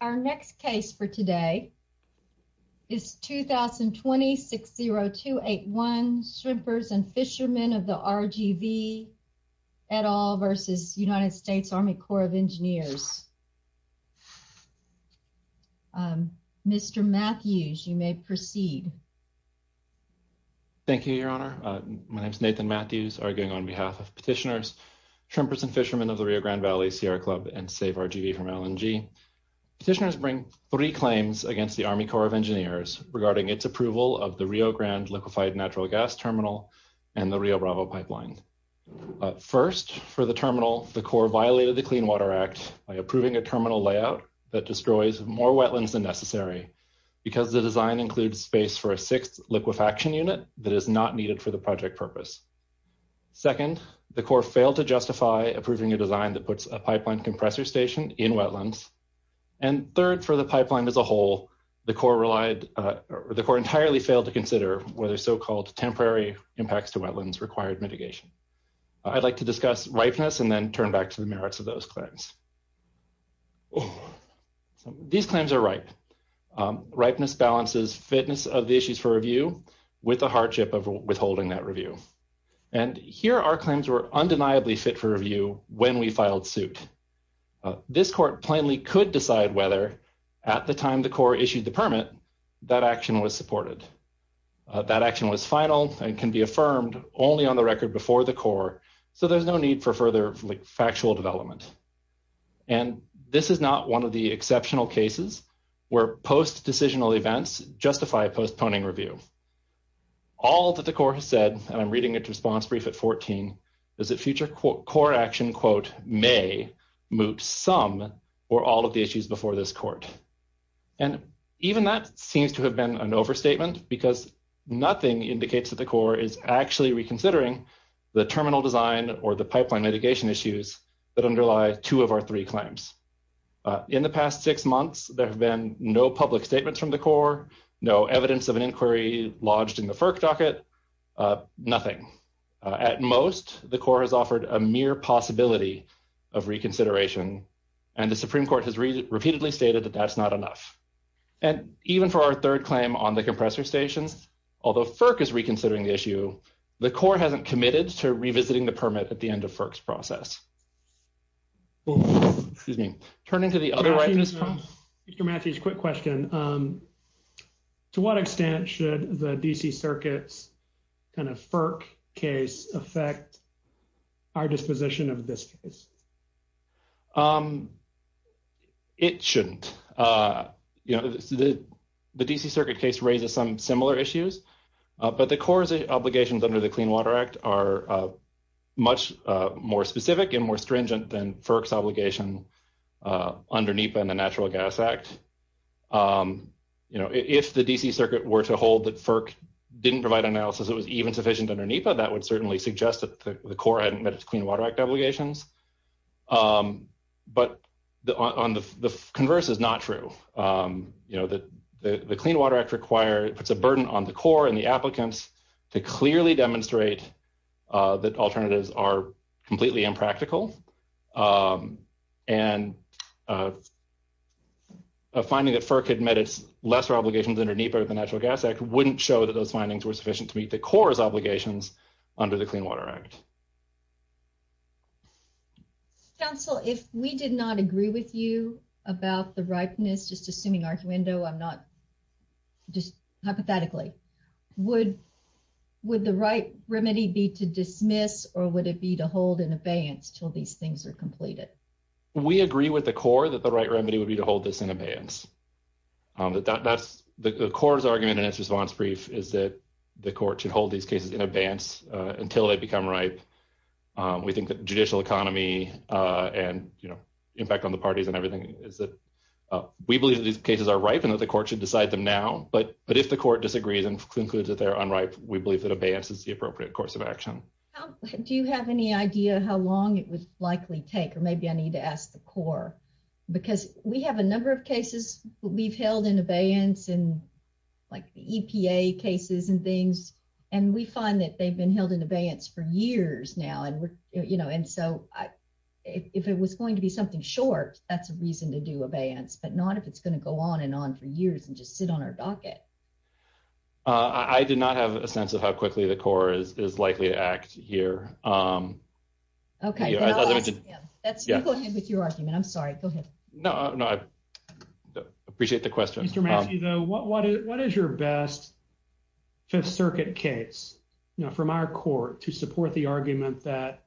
Our next case for today is 2020-60281, Shrimpers and Fishermen of the RGV, et al. versus United States Army Corps of Engineers. Mr. Matthews, you may proceed. Thank you, Your Honor. My name is Nathan Matthews, arguing on behalf of petitioners, Shrimpers and Fishermen of the Rio Grande Valley Sierra Club and Save RGV from LNG. Petitioners bring three claims against the Army Corps of Engineers regarding its approval of the Rio Grande liquefied natural gas terminal and the Rio Bravo pipeline. First, for the terminal, the Corps violated the Clean Water Act by approving a terminal layout that destroys more wetlands than necessary, because the design includes space for a sixth liquefaction unit that is not needed for the project purpose. Second, the Corps failed to justify approving a design that puts a pipeline compressor station in wetlands. And third, for the pipeline as a whole, the Corps entirely failed to consider whether so-called temporary impacts to wetlands required mitigation. I'd like to discuss ripeness and then turn back to the merits of those claims. These claims are ripe. Ripeness balances fitness of the issues for review with the hardship of and here our claims were undeniably fit for review when we filed suit. This court plainly could decide whether, at the time the Corps issued the permit, that action was supported. That action was final and can be affirmed only on the record before the Corps, so there's no need for further factual development. And this is not one of the exceptional cases where post-decisional events justify postponing review. All that the Corps has said, and I'm reading its response brief at 14, is that future Corps action, quote, may moot some or all of the issues before this court. And even that seems to have been an overstatement, because nothing indicates that the Corps is actually reconsidering the terminal design or the pipeline mitigation issues that underlie two of our three claims. In the past six months, there have been no public statements from the Corps, no evidence of an inquiry lodged in the FERC docket, nothing. At most, the Corps has offered a mere possibility of reconsideration, and the Supreme Court has repeatedly stated that that's not enough. And even for our third claim on the compressor stations, although FERC is reconsidering the issue, the Corps hasn't committed to revisiting the permit at the end of FERC's process. Well, excuse me. Turning to the other right. Mr. Matthews, quick question. To what extent should the D.C. Circuit's kind of FERC case affect our disposition of this case? It shouldn't. You know, the D.C. Circuit case raises some similar issues, but the Corps' obligations under the Clean Water Act are much more specific and more stringent than FERC's obligation under NEPA and the Natural Gas Act. You know, if the D.C. Circuit were to hold that FERC didn't provide analysis that was even sufficient under NEPA, that would certainly suggest that the Corps hadn't met its Clean Water Act obligations. But the converse is not true. You know, the Clean Water Act puts a burden on the Corps and the applicants to clearly demonstrate that alternatives are completely impractical. And a finding that FERC had met its lesser obligations under NEPA or the Natural Gas Act wouldn't show that those findings were sufficient to meet the Corps' obligations under the Clean Water Act. Counsel, if we did not agree with you about the ripeness, just assuming arduendo, I'm not, just hypothetically, would the right remedy be to dismiss or would it be to hold in abeyance until these things are completed? We agree with the Corps that the right remedy would be to hold this in abeyance. The Corps' argument in its response brief is that the Court should hold these cases in abeyance until they become ripe, we think that judicial economy and, you know, impact on the parties and everything is that we believe that these cases are ripe and that the Court should decide them now. But if the Court disagrees and concludes that they're unripe, we believe that abeyance is the appropriate course of action. Do you have any idea how long it would likely take? Or maybe I need to ask the Corps, because we have a number of cases we've held in abeyance and like the EPA cases and things, and we find that they've been held in abeyance for years now. And, you know, and so if it was going to be something short, that's a reason to do abeyance, but not if it's going to go on and on for years and just sit on our docket. I did not have a sense of how quickly the Corps is likely to act here. Okay. Go ahead with your argument. I'm sorry. Go ahead. No, no, I appreciate the question. Mr. Massey, though, what is your best Fifth Circuit case from our Court to support the argument that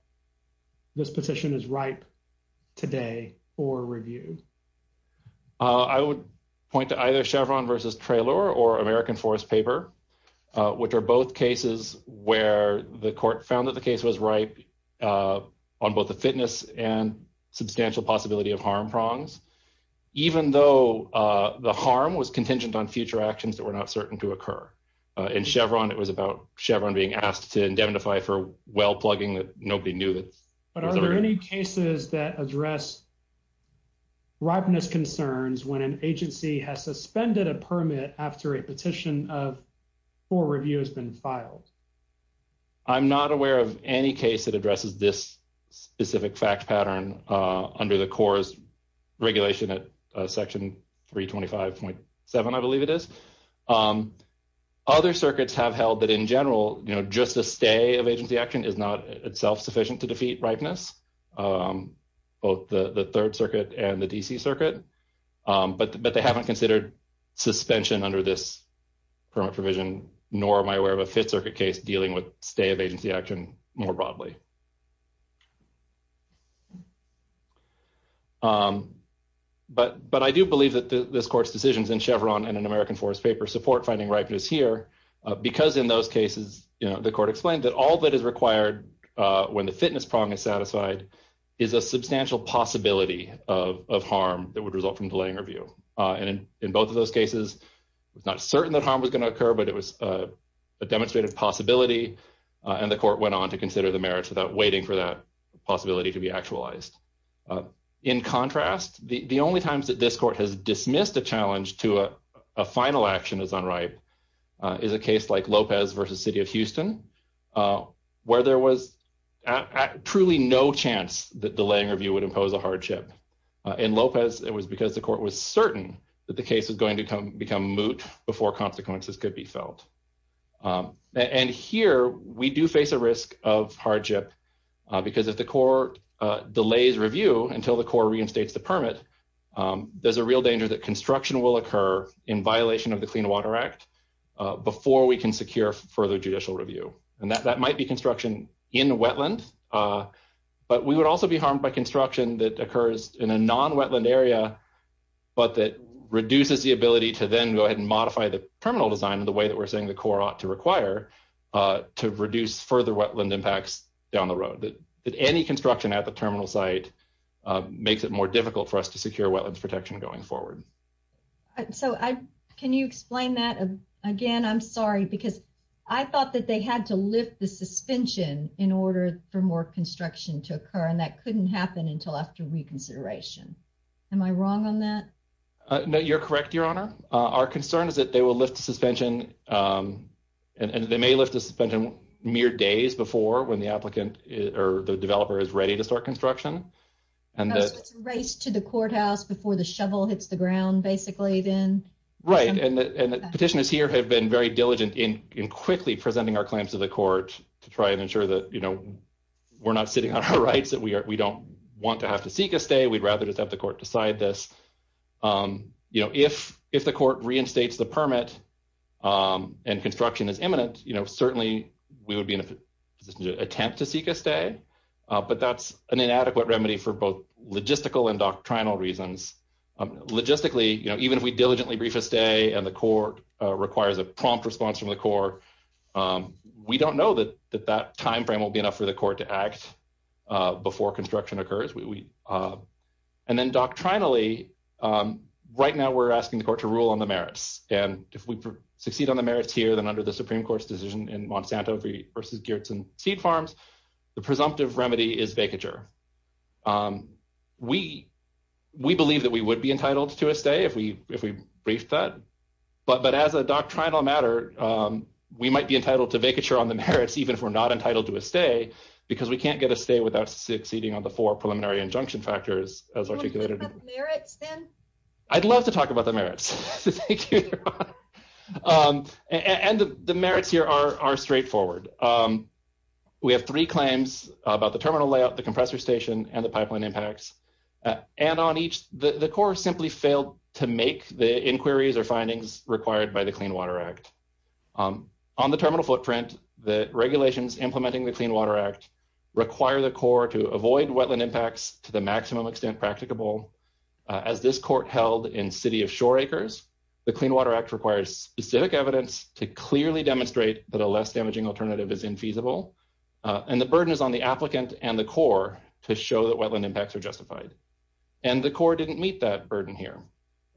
this position is ripe today for review? I would point to either Chevron versus Traylor or American Forest Paper, which are both cases where the Court found that the case was ripe on both the fitness and substantial possibility of harm prongs, even though the harm was contingent on future actions that were not certain to occur. In Chevron, it was about Chevron being asked to indemnify for well plugging that nobody knew. But are there any cases that address ripeness concerns when an agency has suspended a permit after a petition for review has been filed? I'm not aware of any case that addresses this specific fact pattern under the Corps' regulation at Section 325.7, I believe it is. Other circuits have held that, in general, just a stay of agency action is not itself sufficient to defeat ripeness, both the Third Circuit and the D.C. Circuit. But they haven't considered suspension under this permit provision, nor am I aware of a Fifth Circuit case dealing with stay of agency action more broadly. But I do believe that this Court's decisions in Chevron and in American Forest Paper support finding ripeness here, because in those cases, the Court explained that all that is required when the fitness prong is satisfied is a substantial possibility of harm that would result from delaying review. And in both of those cases, it's not certain that harm was going to occur, but it was a demonstrated possibility, and the Court went on to consider the merits without waiting for that possibility to be actualized. In contrast, the only times that this Court has dismissed a challenge to a final action as unripe is a case like Lopez v. City of Houston, where there was truly no chance that delaying review would impose a hardship. In Lopez, it was because the Court was certain that the case was going to become moot before consequences could be felt. And here, we do face a risk of hardship, because if the Court delays review until the Court reinstates the permit, there's a real danger that construction will occur in violation of the Clean Water Act before we can secure further judicial review. And that might be construction in wetland, but we would also be harmed by construction that occurs in a way that we're saying the Court ought to require to reduce further wetland impacts down the road, that any construction at the terminal site makes it more difficult for us to secure wetland protection going forward. So, can you explain that again? I'm sorry, because I thought that they had to lift the suspension in order for more construction to occur, and that couldn't happen until after reconsideration. Am I wrong on that? No, you're correct, Your Honor. Our concern is that they will lift the suspension, and they may lift the suspension mere days before when the applicant or the developer is ready to start construction. So, it's a race to the courthouse before the shovel hits the ground, basically, then? Right. And the petitioners here have been very diligent in quickly presenting our claims to the Court to try and ensure that we're not sitting on our rights, that we don't want to seek a stay, we'd rather just have the Court decide this. If the Court reinstates the permit and construction is imminent, certainly we would be in a position to attempt to seek a stay, but that's an inadequate remedy for both logistical and doctrinal reasons. Logistically, even if we diligently brief a stay and the Court requires a prompt response from the Court, we don't know that that time frame will be enough for the Court to act before construction occurs. And then doctrinally, right now we're asking the Court to rule on the merits, and if we succeed on the merits here, then under the Supreme Court's decision in Monsanto versus Geertsen Seed Farms, the presumptive remedy is vacature. We believe that we would be entitled to a stay if we briefed that, but as a doctrinal matter, we might be entitled to vacature on the because we can't get a stay without succeeding on the four preliminary injunction factors. I'd love to talk about the merits. And the merits here are straightforward. We have three claims about the terminal layout, the compressor station, and the pipeline impacts. And on each, the Court simply failed to make the inquiries or findings required by the Clean Water Act. On the terminal footprint, the regulations implementing the Clean Water Act require the Court to avoid wetland impacts to the maximum extent practicable. As this Court held in City of Shore Acres, the Clean Water Act requires specific evidence to clearly demonstrate that a less damaging alternative is infeasible, and the burden is on the applicant and the Court to show that wetland impacts are justified. And the Court didn't meet that burden here.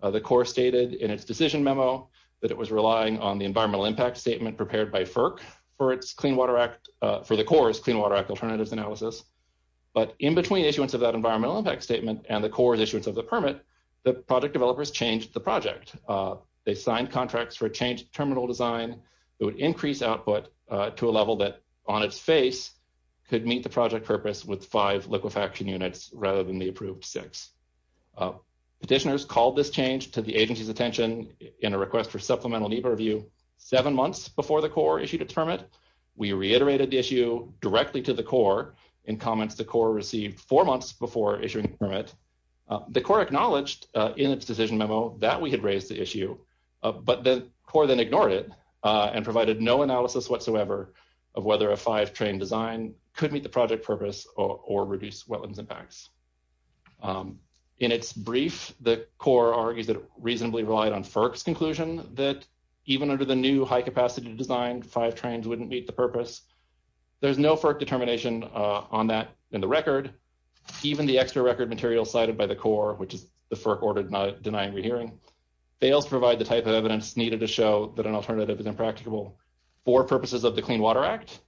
The Court stated in its decision memo that it was relying on the environmental impact statement prepared by FERC for the Court's Clean Water Act alternatives analysis. But in between issuance of that environmental impact statement and the Court's issuance of the permit, the project developers changed the project. They signed contracts for a changed terminal design that would increase output to a level that, on its face, could meet the project purpose with five liquefaction units rather than the approved six. Petitioners called this change to the agency's attention in a request for supplemental need for review seven months before the Court issued its permit. We reiterated the issue directly to the Court in comments the Court received four months before issuing the permit. The Court acknowledged in its decision memo that we had raised the issue, but the Court then ignored it and provided no analysis whatsoever of whether a five-train design could meet the project purpose or reduce wetlands impacts. In its brief, the Court argues that it reasonably relied on FERC's conclusion that even under the new high-capacity design, five trains wouldn't meet the purpose. There's no FERC determination on that in the record. Even the extra record material cited by the Court, which is the FERC-ordered not denying rehearing, fails to provide the type of evidence needed to show that an alternative is impracticable for purposes of the Clean Water Act.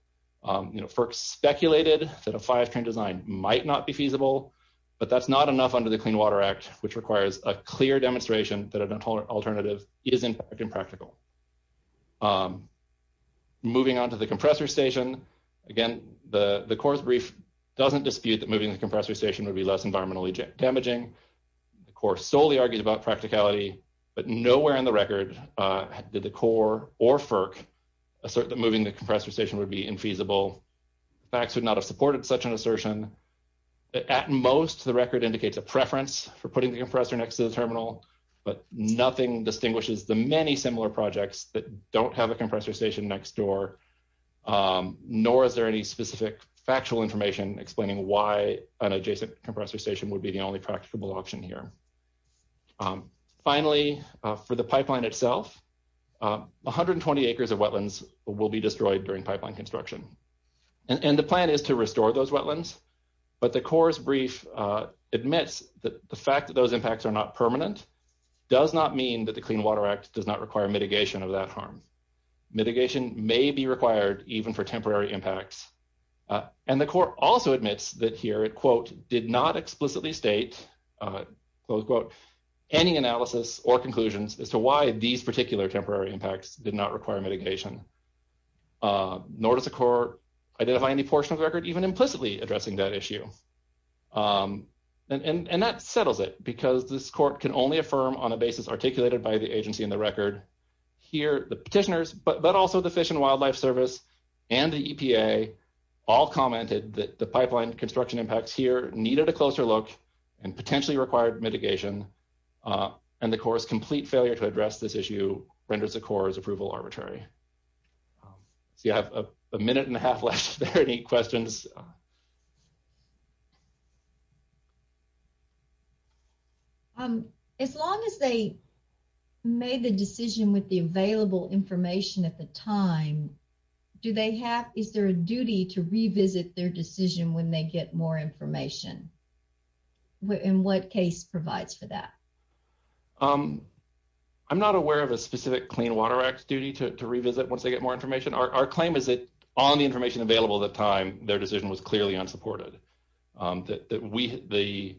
FERC speculated that a five-train design might not be feasible, but that's not enough under the Clean Water Act, which requires a clear demonstration that an alternative is impractical. Moving on to the compressor station, again, the Court's brief doesn't dispute that moving the compressor station would be less environmentally damaging. The Court solely argued about practicality, but nowhere in the record did the Court or FERC assert that moving the compressor station would be infeasible. FACS would not have supported such an assertion. At most, the record indicates a preference for putting the compressor next to the terminal, but nothing distinguishes the many similar projects that don't have a compressor station next door, nor is there any specific factual information explaining why an adjacent compressor station is an impracticable option here. Finally, for the pipeline itself, 120 acres of wetlands will be destroyed during pipeline construction, and the plan is to restore those wetlands, but the Court's brief admits that the fact that those impacts are not permanent does not mean that the Clean Water Act does not require mitigation of that harm. Mitigation may be required even for temporary impacts, and the Court also admits that here it did not explicitly state any analysis or conclusions as to why these particular temporary impacts did not require mitigation, nor does the Court identify any portion of the record even implicitly addressing that issue. And that settles it, because this Court can only affirm on a basis articulated by the agency in the record. Here, the petitioners, but also the Fish and Wildlife Service, and the EPA, all commented that the pipeline construction impacts here needed a closer look and potentially required mitigation, and the Court's complete failure to address this issue renders the Court's approval arbitrary. So you have a minute and a half left. Are there any questions? As long as they made the decision with the available information at the time, do they have, is there a duty to revisit their decision when they get more information? In what case provides for that? I'm not aware of a specific Clean Water Act duty to revisit once they get more information. Our claim is that on the information available at the time, their decision to revisit the clearly unsupported. The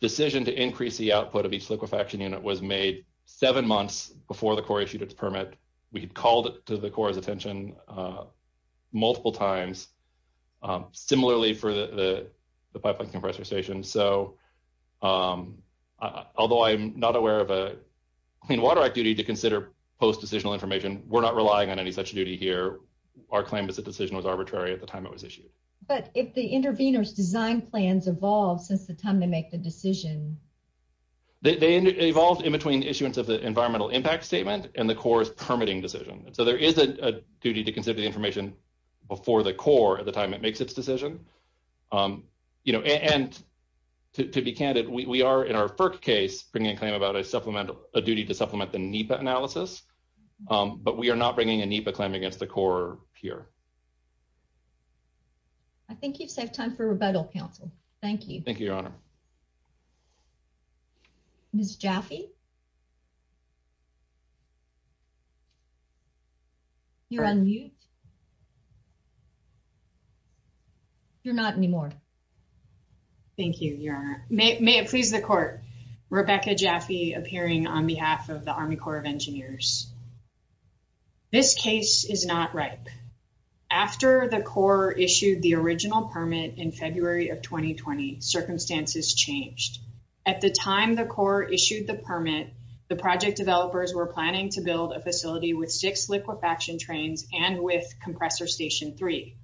decision to increase the output of each liquefaction unit was made seven months before the Court issued its permit. We had called it to the Court's attention multiple times. Similarly for the pipeline compressor station. So, although I'm not aware of a Clean Water Act duty to consider post-decisional information, we're not relying on any such duty here. Our claim is the decision was arbitrary at the time it was issued. But if the intervener's design plans evolved since the time they make the decision. They evolved in between issuance of the environmental impact statement and the Corps' permitting decision. So there is a duty to consider the information before the Corps at the time it makes its decision. You know, and to be candid, we are in our FERC case bringing a claim about a supplemental, a duty to supplement the NEPA analysis. But we are not bringing a NEPA claim against the Corps here. I think you've saved time for rebuttal, counsel. Thank you. Thank you, Your Honor. Ms. Jaffe? You're on mute. You're not anymore. Thank you, Your Honor. May it please the Court. Rebecca Jaffe appearing on is not ripe. After the Corps issued the original permit in February of 2020, circumstances changed. At the time the Corps issued the permit, the project developers were planning to build a facility with six liquefaction trains and with Compressor Station 3.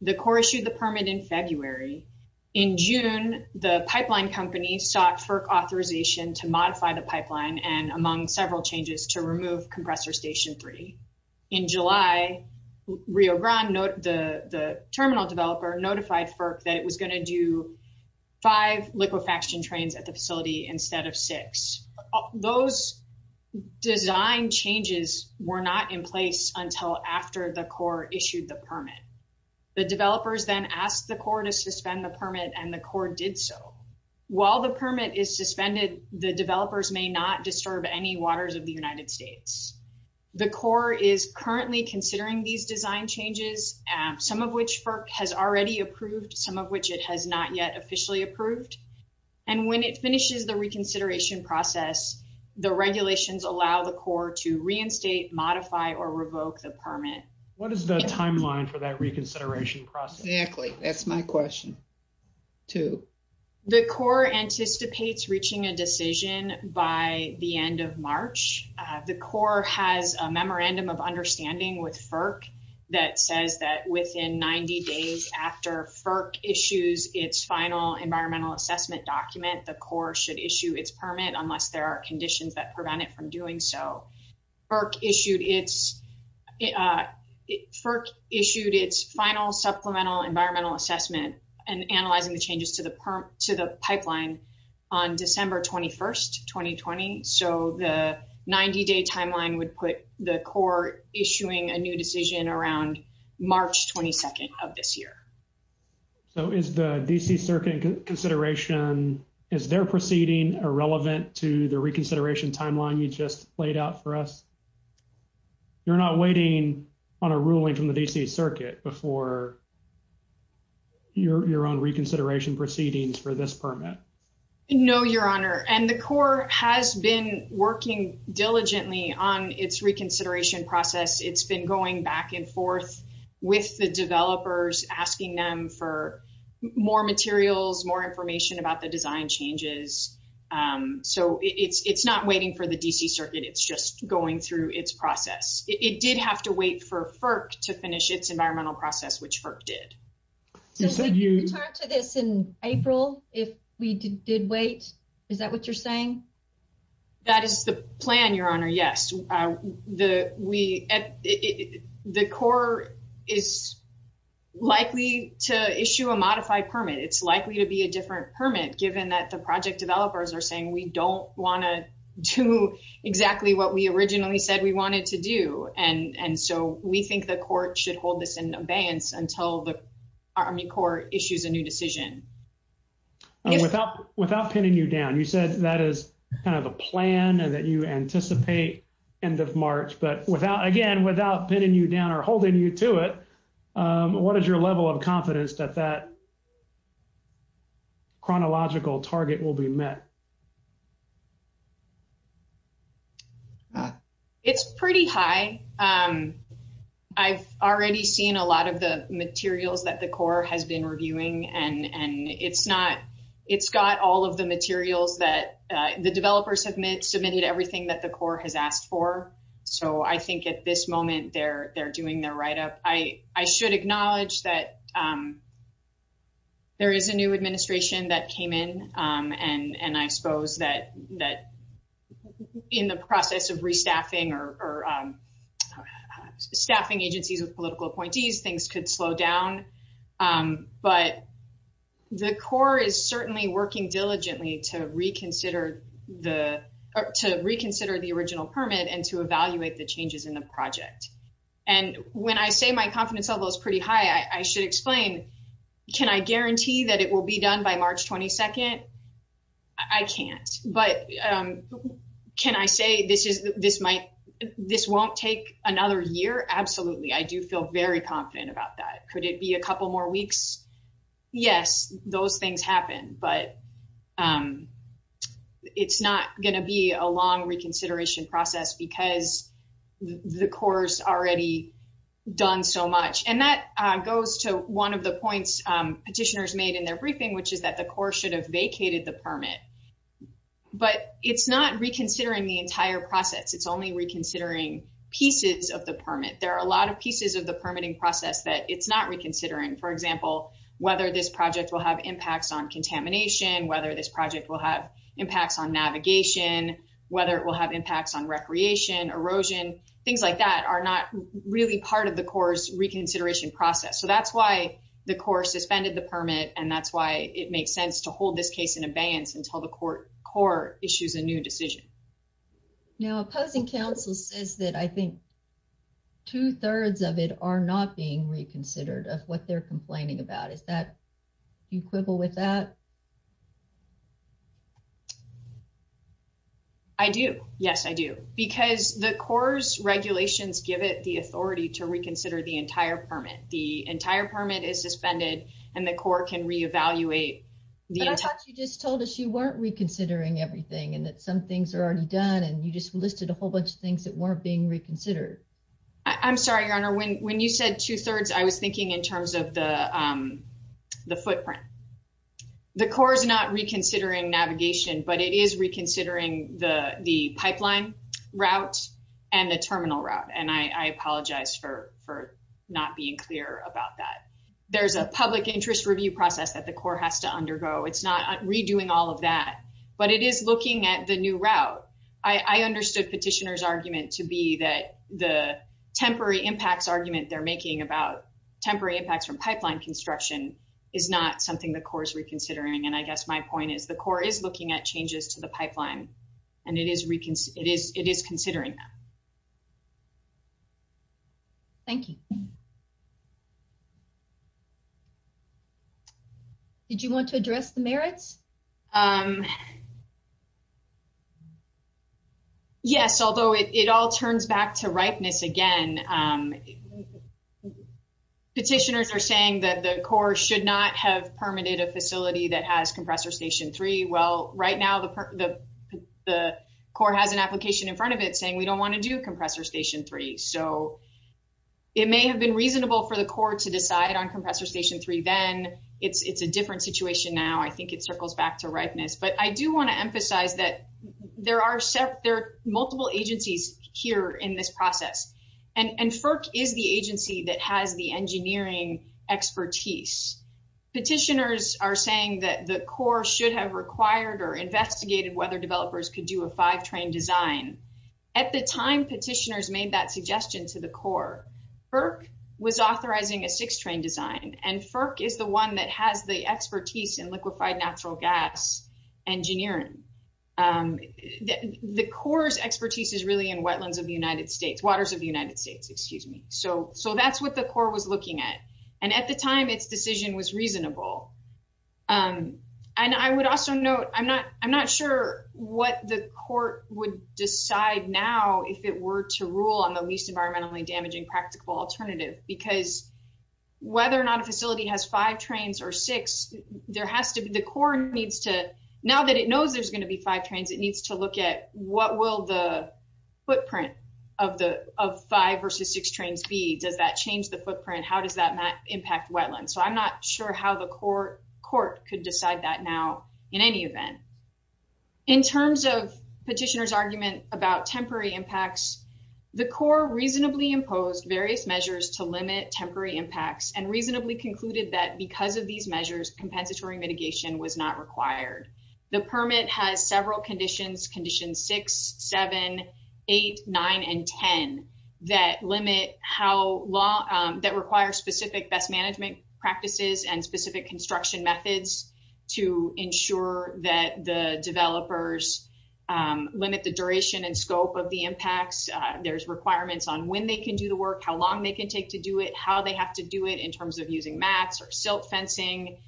The Corps issued the permit in February. In June, the pipeline company sought FERC authorization to modify the pipeline and among several changes to remove Compressor Station 3. In July, Rio Grande, the terminal developer, notified FERC that it was going to do five liquefaction trains at the facility instead of six. Those design changes were not in place until after the Corps issued the permit. The developers then asked the Corps to suspend the permit and the Corps did so. While the permit is suspended, the developers may not disturb any waters of the United States. The Corps is currently considering these design changes, some of which FERC has already approved, some of which it has not yet officially approved, and when it finishes the reconsideration process, the regulations allow the Corps to reinstate, modify, or revoke the permit. What is the timeline for that reconsideration process? Exactly, that's my question too. The Corps anticipates reaching a decision by the end of March. The Corps has a memorandum of understanding with FERC that says that within 90 days after FERC issues its final environmental assessment document, the Corps should issue its permit unless there are conditions that prevent it from doing so. FERC issued its final supplemental environmental assessment and analyzing the changes to the pipeline on December 21st, 2020. So, the 90-day timeline would put the Corps issuing a new decision around March 22nd of this year. So, is the D.C. Circuit consideration, is their proceeding irrelevant to the reconsideration timeline you just laid out for us? You're not waiting on a ruling from the D.C. Circuit before your own reconsideration proceedings for this permit? No, Your Honor, and the Corps has been working diligently on its reconsideration process. It's been going back and forth with the developers, asking them for more materials, more information about the design changes. So, it's not waiting for the D.C. Circuit. It's just going through its process. It did have to wait for FERC to finish its environmental process, which FERC did. So, would we return to this in April if we did wait? Is that what you're saying? That is the plan, Your Honor, yes. The Corps is likely to issue a modified permit. It's likely to be a different permit given that project developers are saying, we don't want to do exactly what we originally said we wanted to do. And so, we think the Court should hold this in abeyance until the Army Corps issues a new decision. Without pinning you down, you said that is kind of a plan that you anticipate end of March. But again, without pinning you down or holding you to it, what is your level of confidence that that chronological target will be met? It's pretty high. I've already seen a lot of the materials that the Corps has been reviewing, and it's got all of the materials that the developers have submitted, everything that the Corps has asked for. So, I think at this moment, they're doing their write-up. I should acknowledge that there is a new administration that came in, and I suppose that in the process of restaffing or staffing agencies with political appointees, things could slow down. But the Corps is certainly working diligently to reconsider the original permit and to evaluate the changes in the project. And when I say my confidence level is pretty high, I should explain, can I guarantee that it will be done by March 22nd? I can't. But can I say this won't take another year? Absolutely. I do feel very confident about that. Could it be a couple more weeks? Yes, those things happen, but it's not going to be a long reconsideration process because the Corps has already done so much. And that goes to one of the points petitioners made in their briefing, which is that the Corps should have vacated the permit. But it's not reconsidering the entire process. It's only reconsidering pieces of the permit. There are a lot of pieces of the whether this project will have impacts on contamination, whether this project will have impacts on navigation, whether it will have impacts on recreation, erosion, things like that are not really part of the Corps' reconsideration process. So that's why the Corps suspended the permit, and that's why it makes sense to hold this case in abeyance until the Corps issues a new decision. Now, opposing counsel says that I think two-thirds of it are not being reconsidered what they're complaining about. Do you quibble with that? I do. Yes, I do. Because the Corps' regulations give it the authority to reconsider the entire permit. The entire permit is suspended, and the Corps can reevaluate the entire permit. But I thought you just told us you weren't reconsidering everything and that some things are already done, and you just listed a whole bunch of things that weren't being reconsidered. I'm sorry, Your Honor. When you said two-thirds, I was thinking in terms of the footprint. The Corps is not reconsidering navigation, but it is reconsidering the pipeline route and the terminal route, and I apologize for not being clear about that. There's a public interest review process that the Corps has to undergo. It's not redoing all of that, but it is looking at the route. I understood Petitioner's argument to be that the temporary impacts argument they're making about temporary impacts from pipeline construction is not something the Corps is reconsidering, and I guess my point is the Corps is looking at changes to the pipeline, and it is considering that. Thank you. Did you want to address the merits? Yes, although it all turns back to ripeness again. Petitioners are saying that the Corps should not have permitted a facility that has Compressor Station 3. Well, right now, the Corps has an application in front of it saying we don't want to do Compressor Station 3. So, it may have been reasonable for the Corps to decide on Compressor Station 3 then. It's a different situation now. I think it circles back to ripeness, but I do want to emphasize that there are multiple agencies here in this process, and FERC is the agency that has the engineering expertise. Petitioners are saying that the Corps should have required or investigated whether developers could do a five-train design. At the time petitioners made that suggestion to the Corps, FERC was authorizing a six-train design, and FERC is the one that has the expertise in liquefied natural gas engineering. The Corps' expertise is really in wetlands of the United States, waters of the United States, excuse me. So, that's what the Corps was looking at, and at the time its decision was reasonable. And I would also note, I'm not sure what the Court would decide now if it were to rule on the least environmentally damaging practical alternative, because whether or not a facility has five trains or six, there has to be, the Corps needs to, now that it knows there's going to be five trains, it needs to look at what will the footprint of impact wetlands. So, I'm not sure how the Court could decide that now in any event. In terms of petitioners' argument about temporary impacts, the Corps reasonably imposed various measures to limit temporary impacts and reasonably concluded that because of these measures, compensatory mitigation was not required. The permit has several conditions, conditions six, seven, eight, nine, and ten that limit how long, that require specific best management practices and specific construction methods to ensure that the developers limit the duration and scope of the impacts. There's requirements on when they can do the work, how long they can take to do it, how they have to do it in terms of using mats or silt fencing.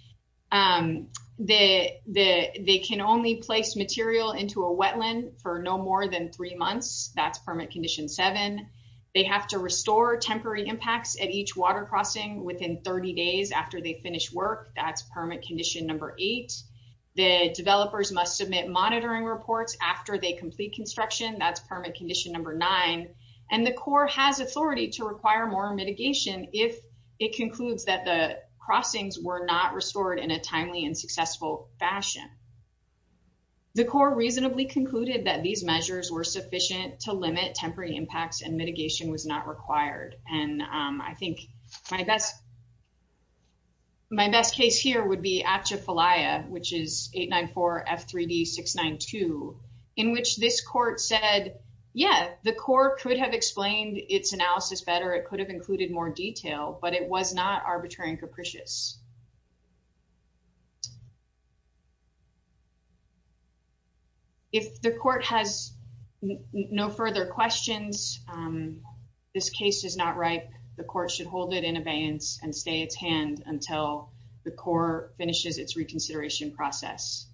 They can only place material into a wetland for no more than three months, that's permit condition seven. They have to restore temporary impacts at each water crossing within 30 days after they finish work, that's permit condition number eight. The developers must submit monitoring reports after they complete construction, that's permit condition number nine. And the Corps has authority to require more mitigation if it concludes that the crossings were not restored in a timely and The Corps reasonably concluded that these measures were sufficient to limit temporary impacts and mitigation was not required. And I think my best, my best case here would be APJA-FALIA, which is 894-F3D-692, in which this court said, yeah, the Corps could have explained its analysis better. It could have included more detail, but it was not arbitrary and capricious. If the court has no further questions, this case is not ripe. The court should hold it in abeyance and stay its hand until the Corps finishes its reconsideration process.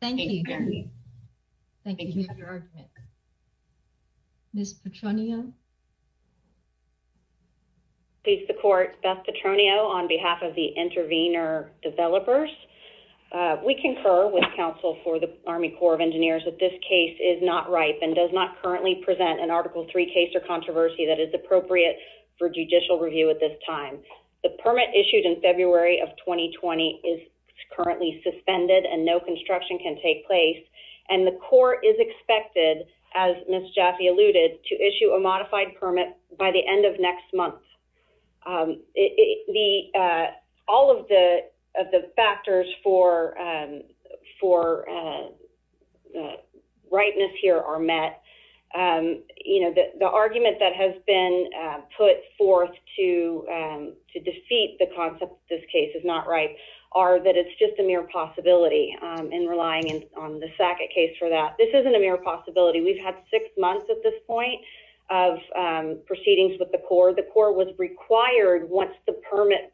Thank you. Thank you for your argument. Ms. Petronio. Peace to the Court. Beth Petronio on behalf of the intervenor developers. We concur with counsel for the Army Corps of Engineers that this case is not ripe and does not currently present an Article III case or controversy that is appropriate for judicial review at this time. The permit issued in February of 2020 is currently suspended and no construction can take place. And the Corps is expected, as Ms. Jaffe alluded, to issue a modified permit by the end of next month. All of the factors for ripeness here are met. You know, the argument that has been put forth to defeat the concept that this case is not ripe are that it's just a mere possibility and relying on the Sackett case for that. This isn't a mere possibility. We've had six months at this point of proceedings with the Corps. The Corps was required, once the permit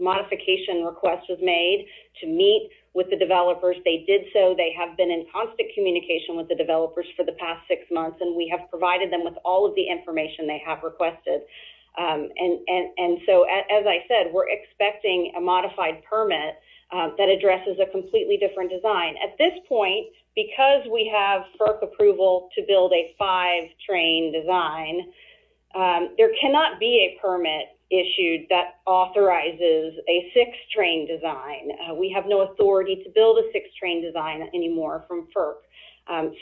modification request was made, to meet with the developers. They did so. They have been in constant communication with the developers for the past six months, and we have provided them with all of the information they have requested. And so, as I said, we're expecting a modified permit that addresses a completely different design. At this point, because we have FERC approval to build a five-train design, there cannot be a permit issued that authorizes a six-train design. We have no authority to build a six-train design anymore from FERC.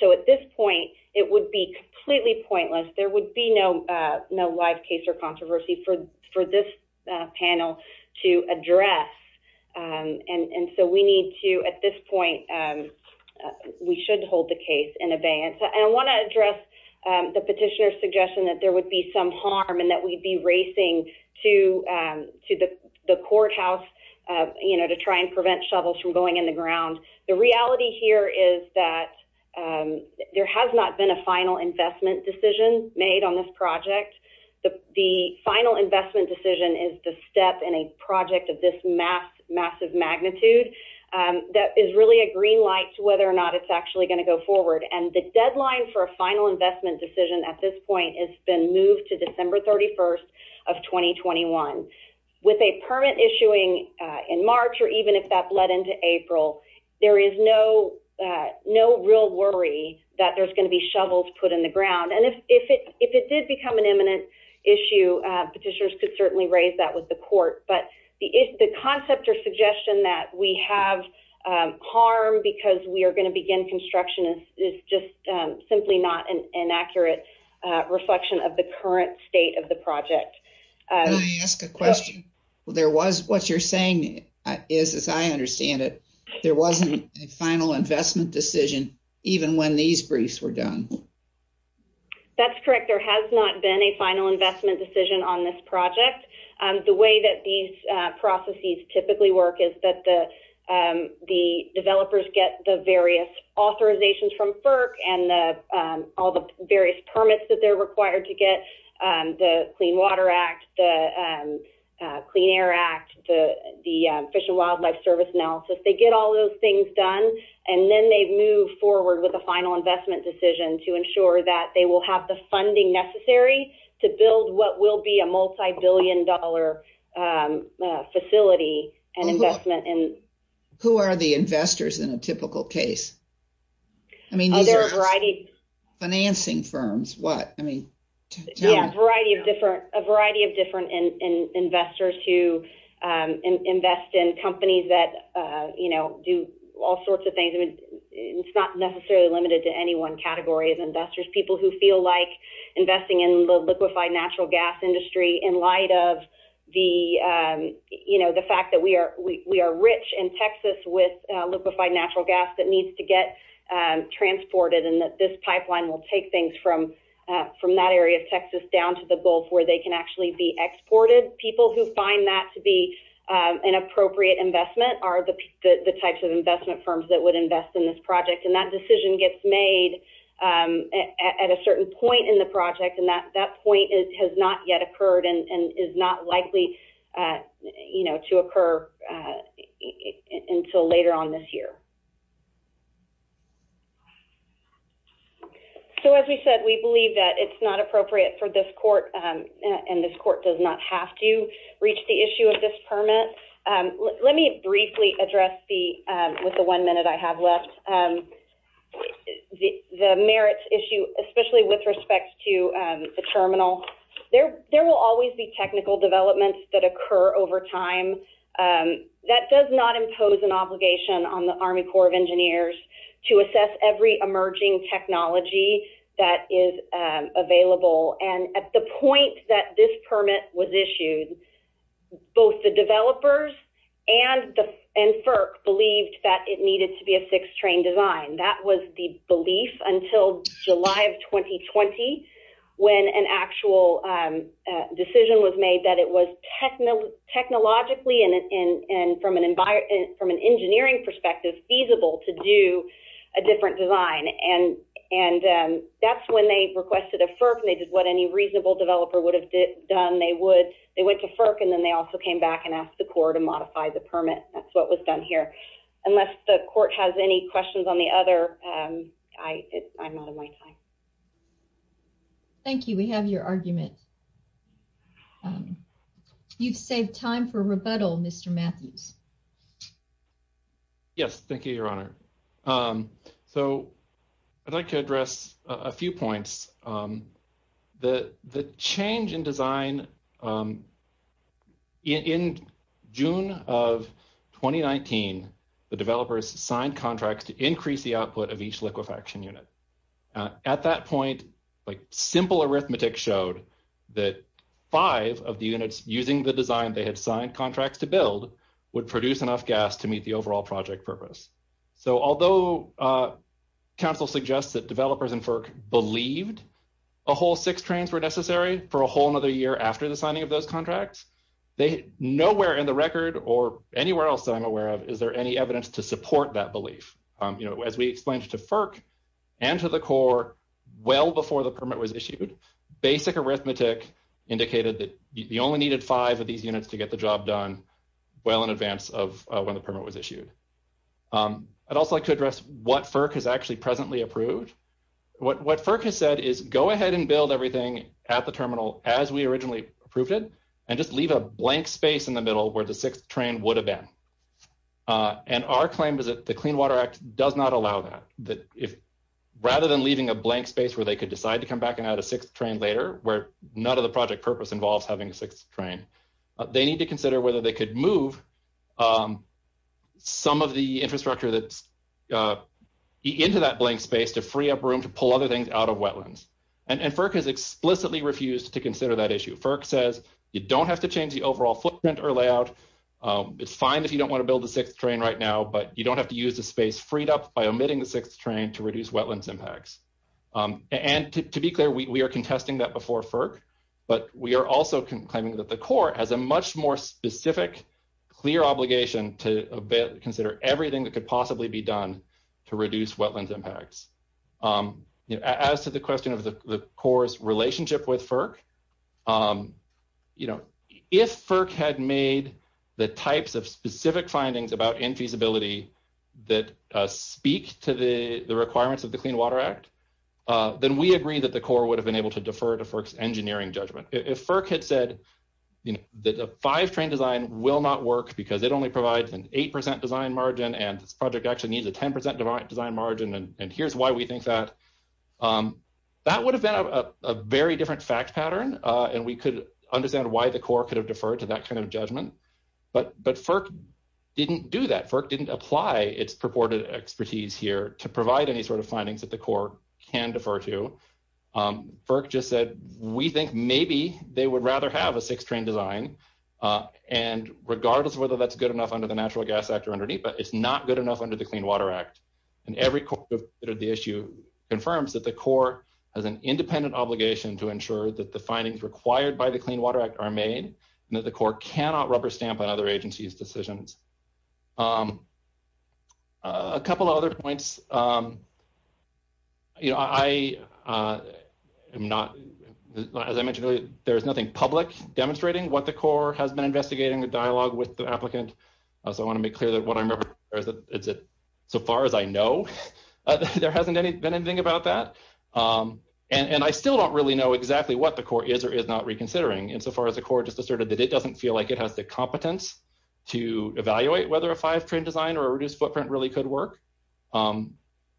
So, at this point, it would be completely pointless. There would be no live case or controversy for this panel to address. And so, at this point, we should hold the case in abeyance. I want to address the petitioner's suggestion that there would be some harm and that we'd be racing to the courthouse to try and prevent shovels from going in the ground. The reality here is that there has not been a final investment decision made on this project. The final investment decision is the step in a magnitude that is really a green light to whether or not it's actually going to go forward. And the deadline for a final investment decision at this point has been moved to December 31st of 2021. With a permit issuing in March or even if that bled into April, there is no real worry that there's going to be shovels put in the ground. And if it did become an imminent issue, petitioners could certainly raise that with the court. But the concept or suggestion that we have harm because we are going to begin construction is just simply not an accurate reflection of the current state of the project. Can I ask a question? What you're saying is, as I understand it, there wasn't a final investment decision even when these briefs were done. That's correct. There has not been a final investment decision on this project. The way that these processes typically work is that the developers get the various authorizations from FERC and all the various permits that they're required to get, the Clean Water Act, the Clean Air Act, the Fish and Wildlife Service analysis. They get all those things done and then they move forward with a final investment decision to ensure that they will have the funding necessary to build what will be a multi-billion dollar facility and investment. Who are the investors in a typical case? I mean, there are a variety of financing firms. A variety of different investors who invest in companies that do all sorts of things. It's not necessarily limited to anyone category of investors. People who feel like investing in the liquefied natural gas industry in light of the fact that we are rich in Texas with liquefied natural gas that needs to get transported and that this pipeline will take things from that area of Texas down to the Gulf where they can actually be exported. People who find that to be an appropriate investment are the types of investment firms that would invest in this project. That decision gets made at a certain point in the project and that point has not yet occurred and is not likely to occur until later on this year. As we said, we believe that it's not appropriate for this court and this court does not have to let me briefly address with the one minute I have left. The merits issue, especially with respect to the terminal, there will always be technical developments that occur over time. That does not impose an obligation on the Army Corps of Engineers to assess every emerging technology that is available. At the point that this permit was issued, both the developers and FERC believed that it needed to be a six-train design. That was the belief until July of 2020 when an actual decision was made that it was technologically and from an engineering perspective feasible to do a different design. That's when they requested a FERC and they did what any reasonable developer would have done. They went to FERC and then they also came back and asked the Corps to modify the permit. That's what was done here. Unless the court has any questions on the other, I'm out of my time. Thank you. We have your argument. You've saved time for rebuttal, Mr. Matthews. Yes, thank you, Your Honor. I'd like to address a few points. The change in design in June of 2019, the developers signed contracts to increase the output of each liquefaction unit. At that point, simple arithmetic showed that five of the units using the design they had produced enough gas to meet the overall project purpose. Although council suggests that developers and FERC believed a whole six trains were necessary for a whole another year after the signing of those contracts, nowhere in the record or anywhere else that I'm aware of is there any evidence to support that belief. As we explained to FERC and to the Corps well before the permit was issued, basic arithmetic indicated that you only needed five of these units to get the job done well in advance of when the permit was issued. I'd also like to address what FERC has actually presently approved. What FERC has said is go ahead and build everything at the terminal as we originally approved it and just leave a blank space in the middle where the sixth train would have been. And our claim is that the Clean Water Act does not allow that. Rather than leaving a blank space where they could decide to come back and add a sixth train later, where none of the purpose involves having a sixth train, they need to consider whether they could move some of the infrastructure that's into that blank space to free up room to pull other things out of wetlands. And FERC has explicitly refused to consider that issue. FERC says you don't have to change the overall footprint or layout. It's fine if you don't want to build the sixth train right now, but you don't have to use the space freed up by omitting the sixth train to reduce also claiming that the Corps has a much more specific, clear obligation to consider everything that could possibly be done to reduce wetlands impacts. As to the question of the Corps' relationship with FERC, you know, if FERC had made the types of specific findings about infeasibility that speak to the requirements of the Clean Water Act, then we agree that the Corps would have been able to defer to FERC's engineering judgment. If FERC had said, you know, that a five train design will not work because it only provides an 8% design margin and this project actually needs a 10% design margin and here's why we think that, that would have been a very different fact pattern and we could understand why the Corps could have deferred to that kind of judgment. But FERC didn't do that. FERC didn't apply its purported expertise here to provide any sort of findings that the Corps can defer to. FERC just said we think maybe they would rather have a six train design and regardless of whether that's good enough under the Natural Gas Act or underneath, but it's not good enough under the Clean Water Act and every court that considered the issue confirms that the Corps has an independent obligation to ensure that the findings required by the Clean Water Act are made and that the Corps cannot rubber stamp on other agencies' decisions. A couple of other points, you know, I am not, as I mentioned earlier, there's nothing public demonstrating what the Corps has been investigating, the dialogue with the applicant, so I want to make clear that what I remember is that so far as I know there hasn't been anything about that and I still don't really know exactly what the Corps is or is not reconsidering insofar as the Corps just asserted that it doesn't feel like it has the competence to evaluate whether a five train design or a reduced footprint really could work.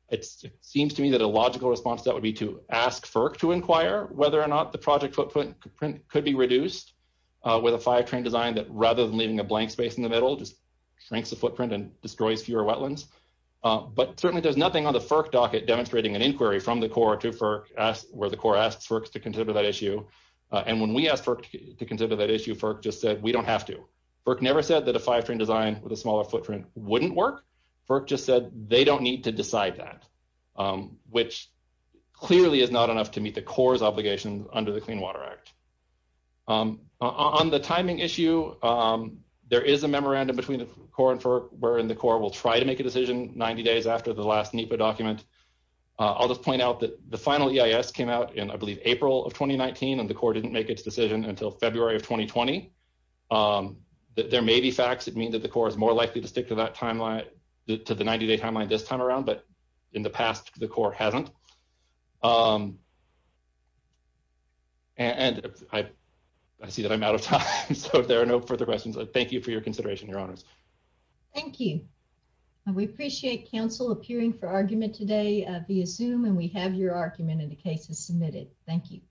It seems to me that a logical response to that would be to ask FERC to inquire whether or not the project footprint could be reduced with a five train design that rather than leaving a blank space in the middle just shrinks the footprint and destroys fewer wetlands, but certainly there's nothing on the FERC docket demonstrating an inquiry from the Corps to FERC where the Corps asks FERC to consider that issue and when we asked FERC to consider that issue, FERC just said we don't have to. FERC never said that a five train design with a smaller footprint wouldn't work, FERC just said they don't need to decide that, which clearly is not enough to meet the Corps' obligations under the Clean Water Act. On the timing issue, there is a memorandum between the Corps and FERC wherein the Corps will try to make a decision 90 days after the last NEPA document. I'll just point out that the final EIS came out in, I believe, April of 2019 and the Corps didn't make its decision until February of 2020. There may be facts that mean that the Corps is more likely to stick to that timeline, to the 90-day timeline this time around, but in the past the Corps hasn't. And I see that I'm out of time, so there are no further questions. Thank you for your consideration, Your Honors. Thank you. We appreciate counsel appearing for argument today via Zoom and we have your argument in the cases submitted. Thank you.